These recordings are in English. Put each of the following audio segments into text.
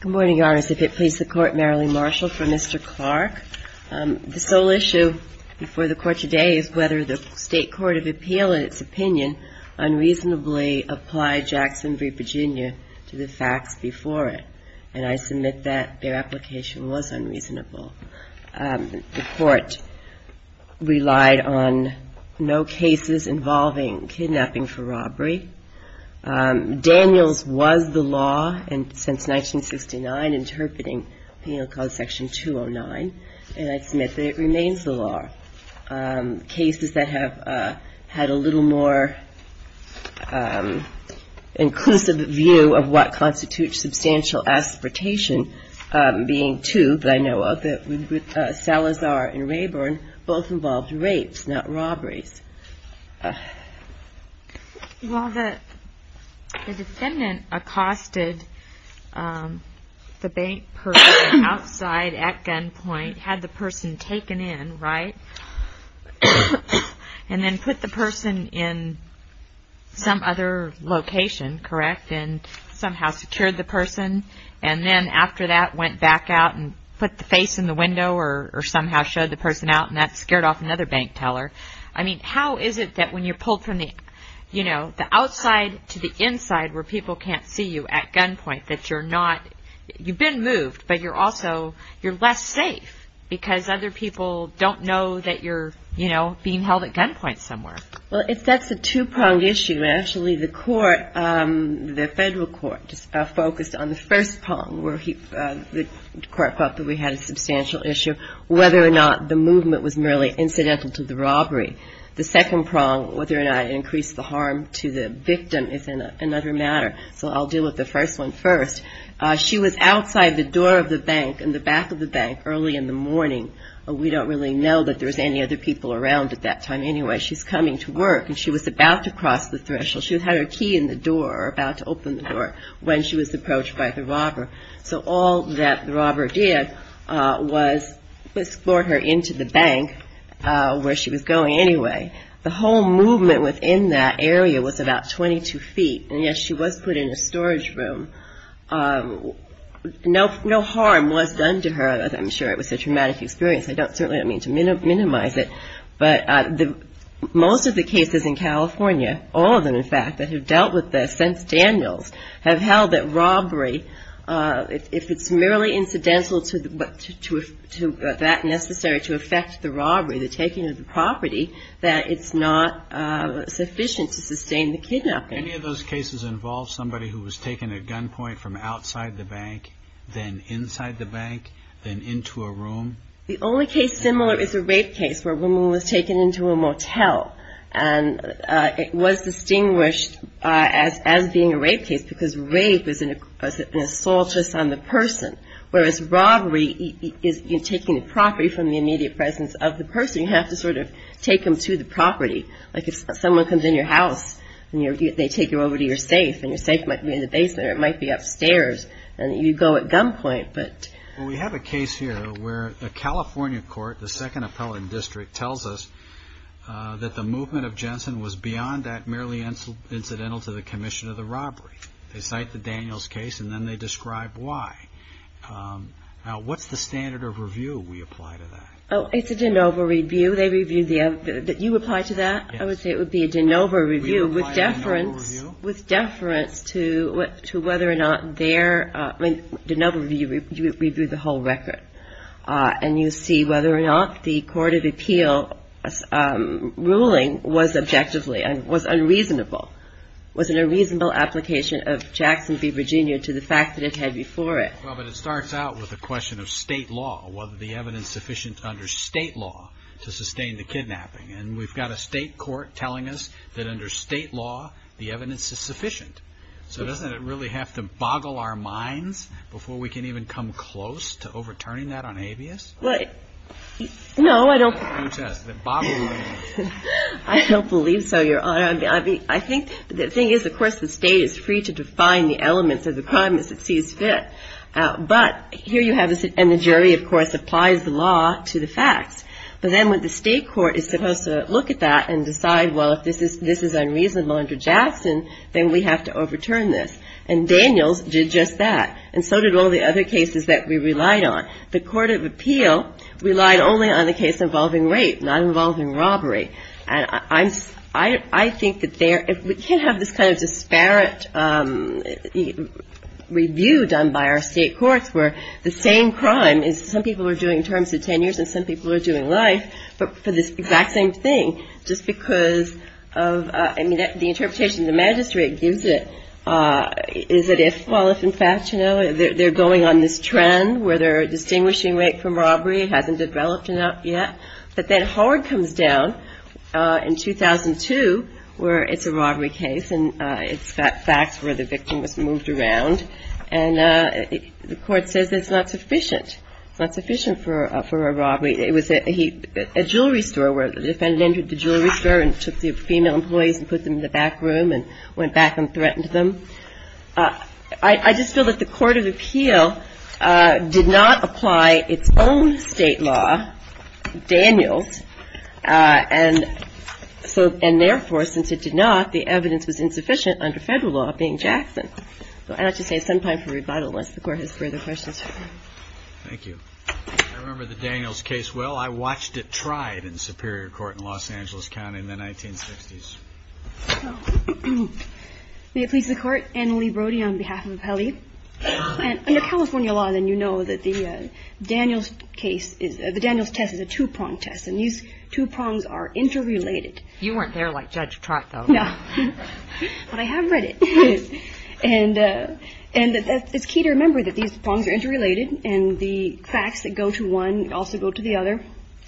Good morning, Your Honors. If it please the Court, Marilee Marshall for Mr. Clark. The sole issue before the Court today is whether the State Court of Appeal in its opinion unreasonably applied Jackson v. Virginia to the facts before it, and I submit that their application was unreasonable. The Court relied on no cases involving kidnapping for robbery. Daniels was the law since 1969 interpreting penal code section 209, and I submit that it remains the law. Cases that have had a little more inclusive view of what constitutes substantial aspiration being two, but I know of it, Salazar and Rayburn, both involved rapes, not robberies. While the defendant accosted the bank person outside at gunpoint, had the person taken in, right, and then put the person in some other location, correct, and somehow secured the person, and then after that went back out and put the face in the window or somehow showed the person out, and that scared off another bank teller. I mean, how is it that when you're pulled from the, you know, the outside to the inside where people can't see you at gunpoint that you're not, you've been moved, but you're also, you're less safe because other people don't know that you're, you know, being held at gunpoint somewhere? Well, that's a two-pronged issue, and actually the Court, the Federal Court, focused on the first prong where the Court thought that we had a substantial issue, whether or not the movement was merely incidental to the robbery. The second prong, whether or not it increased the harm to the victim is another matter, so I'll deal with the first one first. She was outside the door of the bank, in the back of the bank early in the morning. We don't really know that there was any other people around at that time anyway. She's coming to work, and she was about to cross the threshold. She had her key in the door or about to open the door when she was approached by the robber, so all that the robber did was escort her into the bank, where she was going anyway. The whole movement within that area was about 22 feet, and yet she was put in a storage room. No harm was done to her. I'm sure it was a traumatic experience. I certainly don't mean to minimize it, but most of the cases in California, all of them in fact, that have dealt with this since Daniels, have held that robbery, if it's merely incidental to that necessary to affect the robbery, the taking of the property, that it's not sufficient to sustain the kidnapping. Any of those cases involve somebody who was taken at gunpoint from outside the bank, then inside the bank, then into a room? The only case similar is a rape case, where a woman was taken into a motel, and it was distinguished as being a rape case, because rape is an assault just on the person, whereas robbery is taking the property from the immediate presence of the person. You have to sort of take them to the property. Like if someone comes in your house, and they take you over to your safe, and your safe might be in the basement, or it might be upstairs, and you go at gunpoint, but... We have a case here, where the California court, the second appellate district, tells us that the movement of Jensen was beyond that merely incidental to the commission of the robbery. They cite the Daniels case, and then they describe why. Now what's the standard of review we apply to that? Oh, it's a de novo review. They review the other... You would apply to that? Yes. I would say it would be a de novo review, with deference to whether or not their... De novo review, you would review the whole record, and you see whether or not the court of appeal ruling was objectively, and was unreasonable. Was it a reasonable application of Jackson v. Virginia to the fact that it had before it? Well, but it starts out with a question of state law, whether the evidence sufficient under state law to sustain the kidnapping. And we've got a state court telling us that under state law, the evidence is sufficient. So doesn't it really have to boggle our minds before we can even come close to overturning that on habeas? No, I don't... I don't believe so, Your Honor. I think the thing is, of course, the state is free to define the elements of the crime as it sees fit. But here you have... And the jury, of course, applies the law to the facts. But then when the state court is supposed to look at that and decide, well, if this is unreasonable under Jackson, then we have to overturn this. And Daniels did just that. And so did all the other cases that we relied on. The court of appeal relied only on the case involving rape, not involving robbery. And I'm... I think that there... If we can't have this kind of disparate review done by our state courts, where the same crime is... Some people are doing terms of tenures, and some people are doing life, but for this exact same thing, just because of... I mean, the interpretation the magistrate gives it is that if... Well, if in fact, you know, they're going on this trend where they're distinguishing rape from robbery hasn't developed enough yet. But then Howard comes down in 2002, where it's a robbery case, and it's got facts where the victim was moved around. And the court says it's not sufficient. It's not sufficient for a robbery. It was a jewelry store where the defendant entered the jewelry store and took the female employees and put them in the back room and went back and threatened them. I just feel that the court of appeal did not apply its own state law, Daniels, and so... And therefore, since it did not, the evidence was insufficient under federal law being Jackson. So I'd like to say it's some time for rebuttal once the court has further questions. Thank you. I remember the Daniels case well. I watched it tried in Superior Court in Los Angeles County in the 1960s. May it please the court, Ann Lee Brody on behalf of Apelli. Under California law, then, you know that the Daniels case is... The Daniels test is a two-prong test, and these two prongs are interrelated. You weren't there like Judge Trott, though. No. But I have read it. And it's key to remember that these prongs are interrelated, and the facts that go to one also go to the other.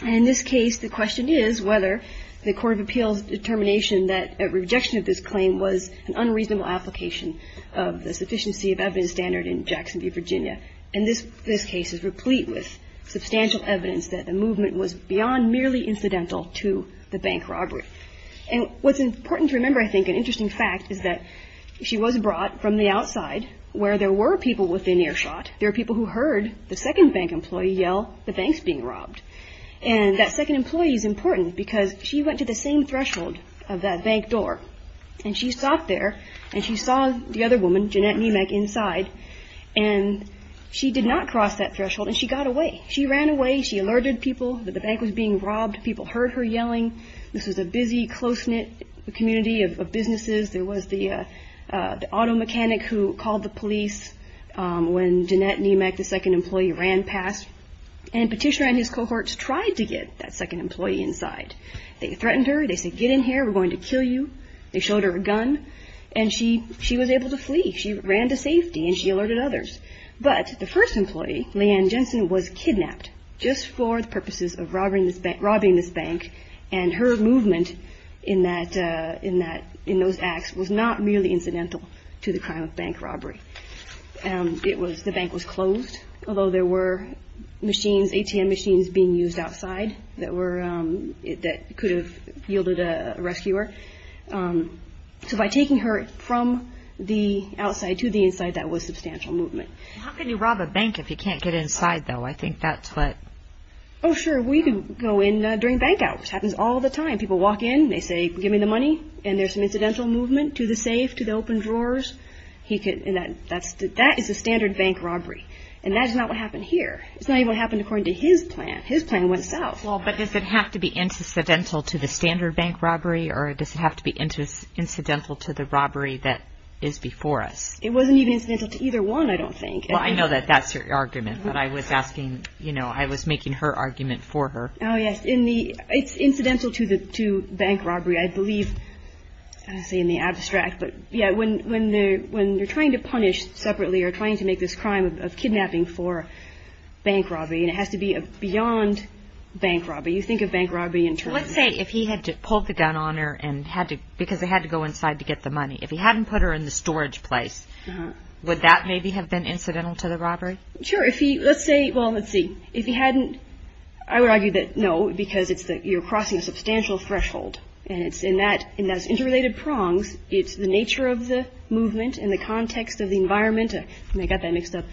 And in this case, the question is whether the court of appeals' determination that a rejection of this claim was an unreasonable application of the sufficiency of evidence standard in Jackson v. Virginia. And this case is replete with substantial evidence that the movement was beyond merely incidental to the bank robbery. And what's important to remember, I think, an interesting fact, is that she was brought from the outside where there were people within earshot. There were people who heard the second bank employee yell, the bank's being robbed. And that second employee is important because she went to the same threshold of that bank door, and she stopped there, and she saw the other woman, Jeanette Niemack, inside. And she did not cross that threshold, and she got away. She ran away. She alerted people that the bank was being robbed. People heard her yelling. This was a busy, close-knit community of businesses. There was the auto mechanic who called the police when Jeanette Niemack, the second employee, ran past. And Petitioner and his cohorts tried to get that second employee inside. They threatened her. They said, get in here. We're going to kill you. They showed her a gun. And she was able to flee. She ran to safety, and she alerted others. But the first employee, Leanne Jensen, was kidnapped just for the purposes of robbing this bank. And her movement in those acts was not merely incidental to the crime of bank robbery. The bank was closed, although there were ATM machines being used outside that could have yielded a rescuer. So by taking her from the outside to the inside, that was substantial movement. How can you rob a bank if you can't get inside, though? I think that's what... Oh, sure. We could go in during bank-outs. Happens all the time. People walk in. They say, give me the money. And there's some incidental movement to the safe, to the open drawers. That is a standard bank robbery. And that is not what happened here. It's not even what happened according to his plan. His plan went south. Well, but does it have to be incidental to the standard bank robbery, or does it have to be incidental to the robbery that is before us? It wasn't even incidental to either one, I don't think. Well, I know that that's your argument. But I was asking, you know, I was making her argument for her. Oh, yes. In the... It's incidental to bank robbery, I believe. I don't want to say in the abstract. But, yeah, when you're trying to punish separately or trying to make this crime of kidnapping for bank robbery, and it has to be beyond bank robbery. You think of bank robbery in terms of... Let's say if he had to pull the gun on her and had to... Because they had to go inside to get the money. If he hadn't put her in the storage place, would that maybe have been incidental to the robbery? Sure. If he... Let's say... Well, let's see. If he hadn't... I would argue that no, because it's that you're crossing a substantial threshold. And it's in that... In those interrelated prongs, it's the nature of the movement and the context of the environment. I got that mixed up.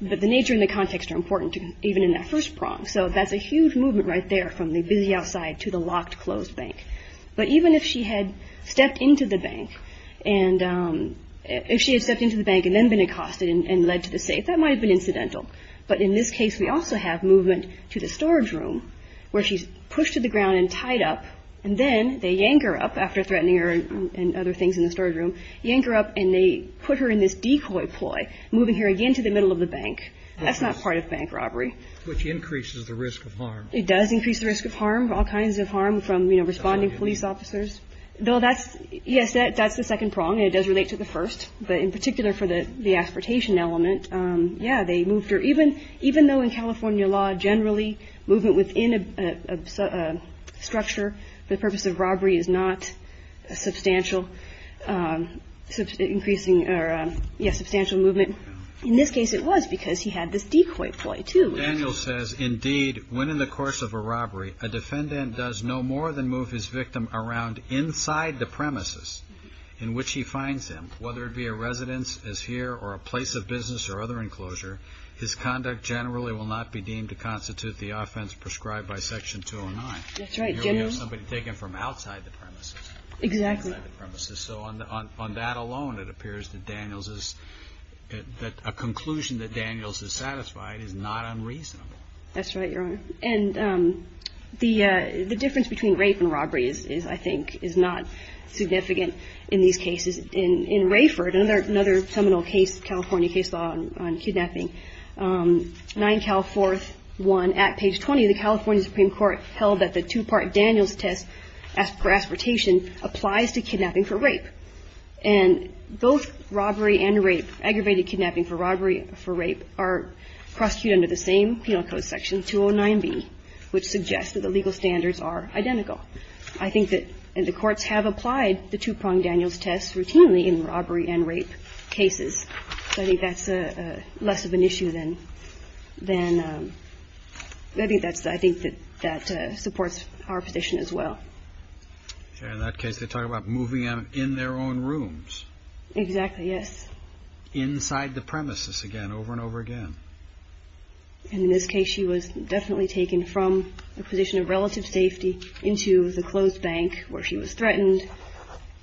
But the nature and the context are important, even in that first prong. So that's a huge movement right there from the busy outside to the locked, closed bank. But even if she had stepped into the bank and... If she had stepped into the bank and then been accosted and led to the safe, that might have been incidental. But in this case, we also have movement to the storage room where she's pushed to the ground and tied up, and then they yank her up after threatening her and other things in the storage room, yank her up, and they put her in this decoy ploy, moving her again to the middle of the bank. That's not part of bank robbery. Which increases the risk of harm. It does increase the risk of harm, all kinds of harm from, you know, responding police officers. Though that's, yes, that's the second prong, and it does relate to the first. But in particular for the aspiratation element, yeah, they moved her. Even though in California law, generally, movement within a structure for the purpose of robbery is not a substantial, increasing or, yes, substantial movement. In this case, it was because he had this decoy ploy, too. Daniels says, indeed, when in the course of a robbery, a defendant does no more than move his victim around inside the premises in which he finds him, whether it be a residence, as here, or a place of business or other enclosure, his conduct generally will not be deemed to constitute the offense prescribed by Section 209. That's right. Here we have somebody taken from outside the premises. Exactly. Outside the premises. So on that alone, it appears that Daniels is, that a conclusion that Daniels is satisfied is not unreasonable. That's right, Your Honor. And the difference between rape and robbery is, I think, is not significant in these cases. In Rayford, another seminal case, California case law on kidnapping, 9 Cal 4th, 1, at page 20, the California Supreme Court held that the two-part Daniels test for aspiratation applies to kidnapping for rape. And both robbery and rape, aggravated kidnapping for robbery, for rape, are prosecuted under the same penal code, Section 209B, which suggests that the legal standards are identical. I think that, and the courts have applied the two-pronged Daniels test routinely in robbery and rape cases. So I think that's less of an issue than, than, I think that's, I think that, that supports our position as well. In that case, they're talking about moving them in their own rooms. Exactly, yes. Inside the premises again, over and over again. And in this case, she was definitely taken from a position of relative safety into the closed bank where she was threatened,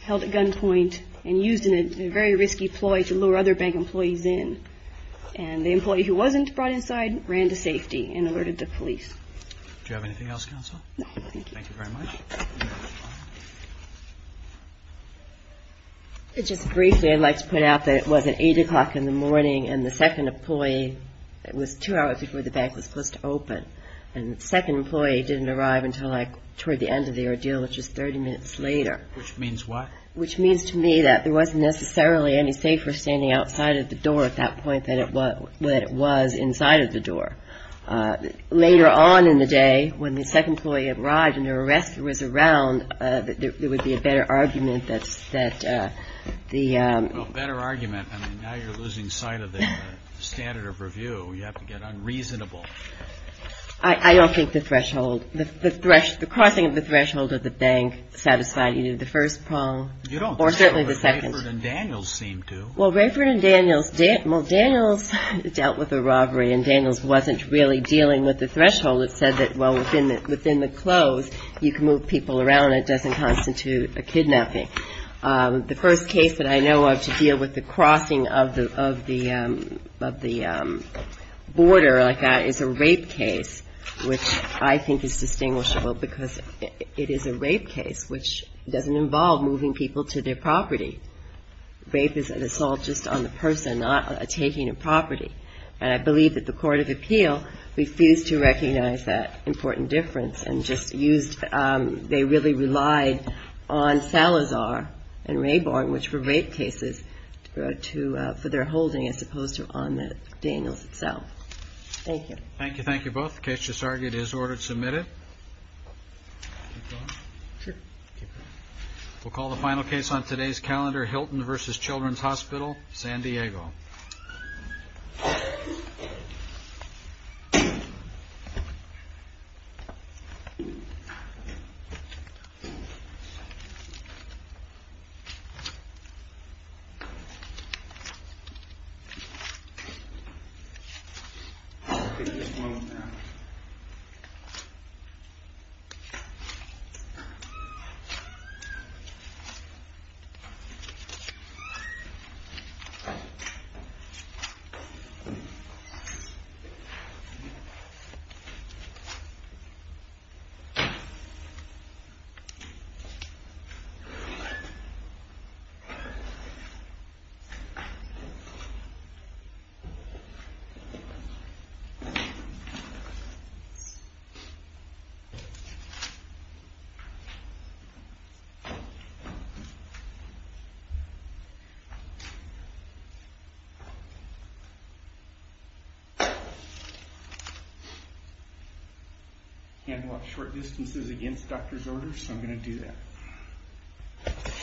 held at gunpoint, and used in a very risky ploy to lure other bank employees in. And the employee who wasn't brought inside ran to safety and alerted the police. Do you have anything else, counsel? No, thank you. Thank you very much. Just briefly, I'd like to point out that it wasn't 8 o'clock in the morning, and the second employee, it was two hours before the bank was supposed to open, and the second employee didn't arrive until like toward the end of the ordeal, which was 30 minutes later. Which means what? Which means to me that there wasn't necessarily any safer standing outside of the door at that point than it was inside of the door. Later on in the day, when the second employee arrived and her arrestor was around, there would be a better argument that the... Well, better argument. I mean, now you're losing sight of the standard of review. You have to get unreasonable. I don't think the threshold, the crossing of the threshold of the bank satisfied either the first prong or certainly the second. You don't think so, but Rayford and Daniels seemed to. Well, Rayford and Daniels, well, Daniels dealt with a robbery, and Daniels wasn't really dealing with the threshold. It said that, well, within the close, you can move people around. It doesn't constitute a kidnapping. The first case that I know of to deal with the crossing of the border like that is a rape case, which I think is distinguishable because it is a rape case, which doesn't involve moving people to their property. Rape is an assault just on the person, not taking a property. And I believe that the Court of Appeal refused to recognize that important difference and just used... They really relied on Salazar and Rayborn, which were rape cases for their holding as opposed to on Daniels itself. Thank you. Thank you. Thank you both. The case just argued is ordered submitted. We'll call the final case on today's calendar, Hilton versus Children's Hospital, San Diego. Thank you. Thank you. Thank you. Handle up short distances against doctor's orders, so I'm going to do that.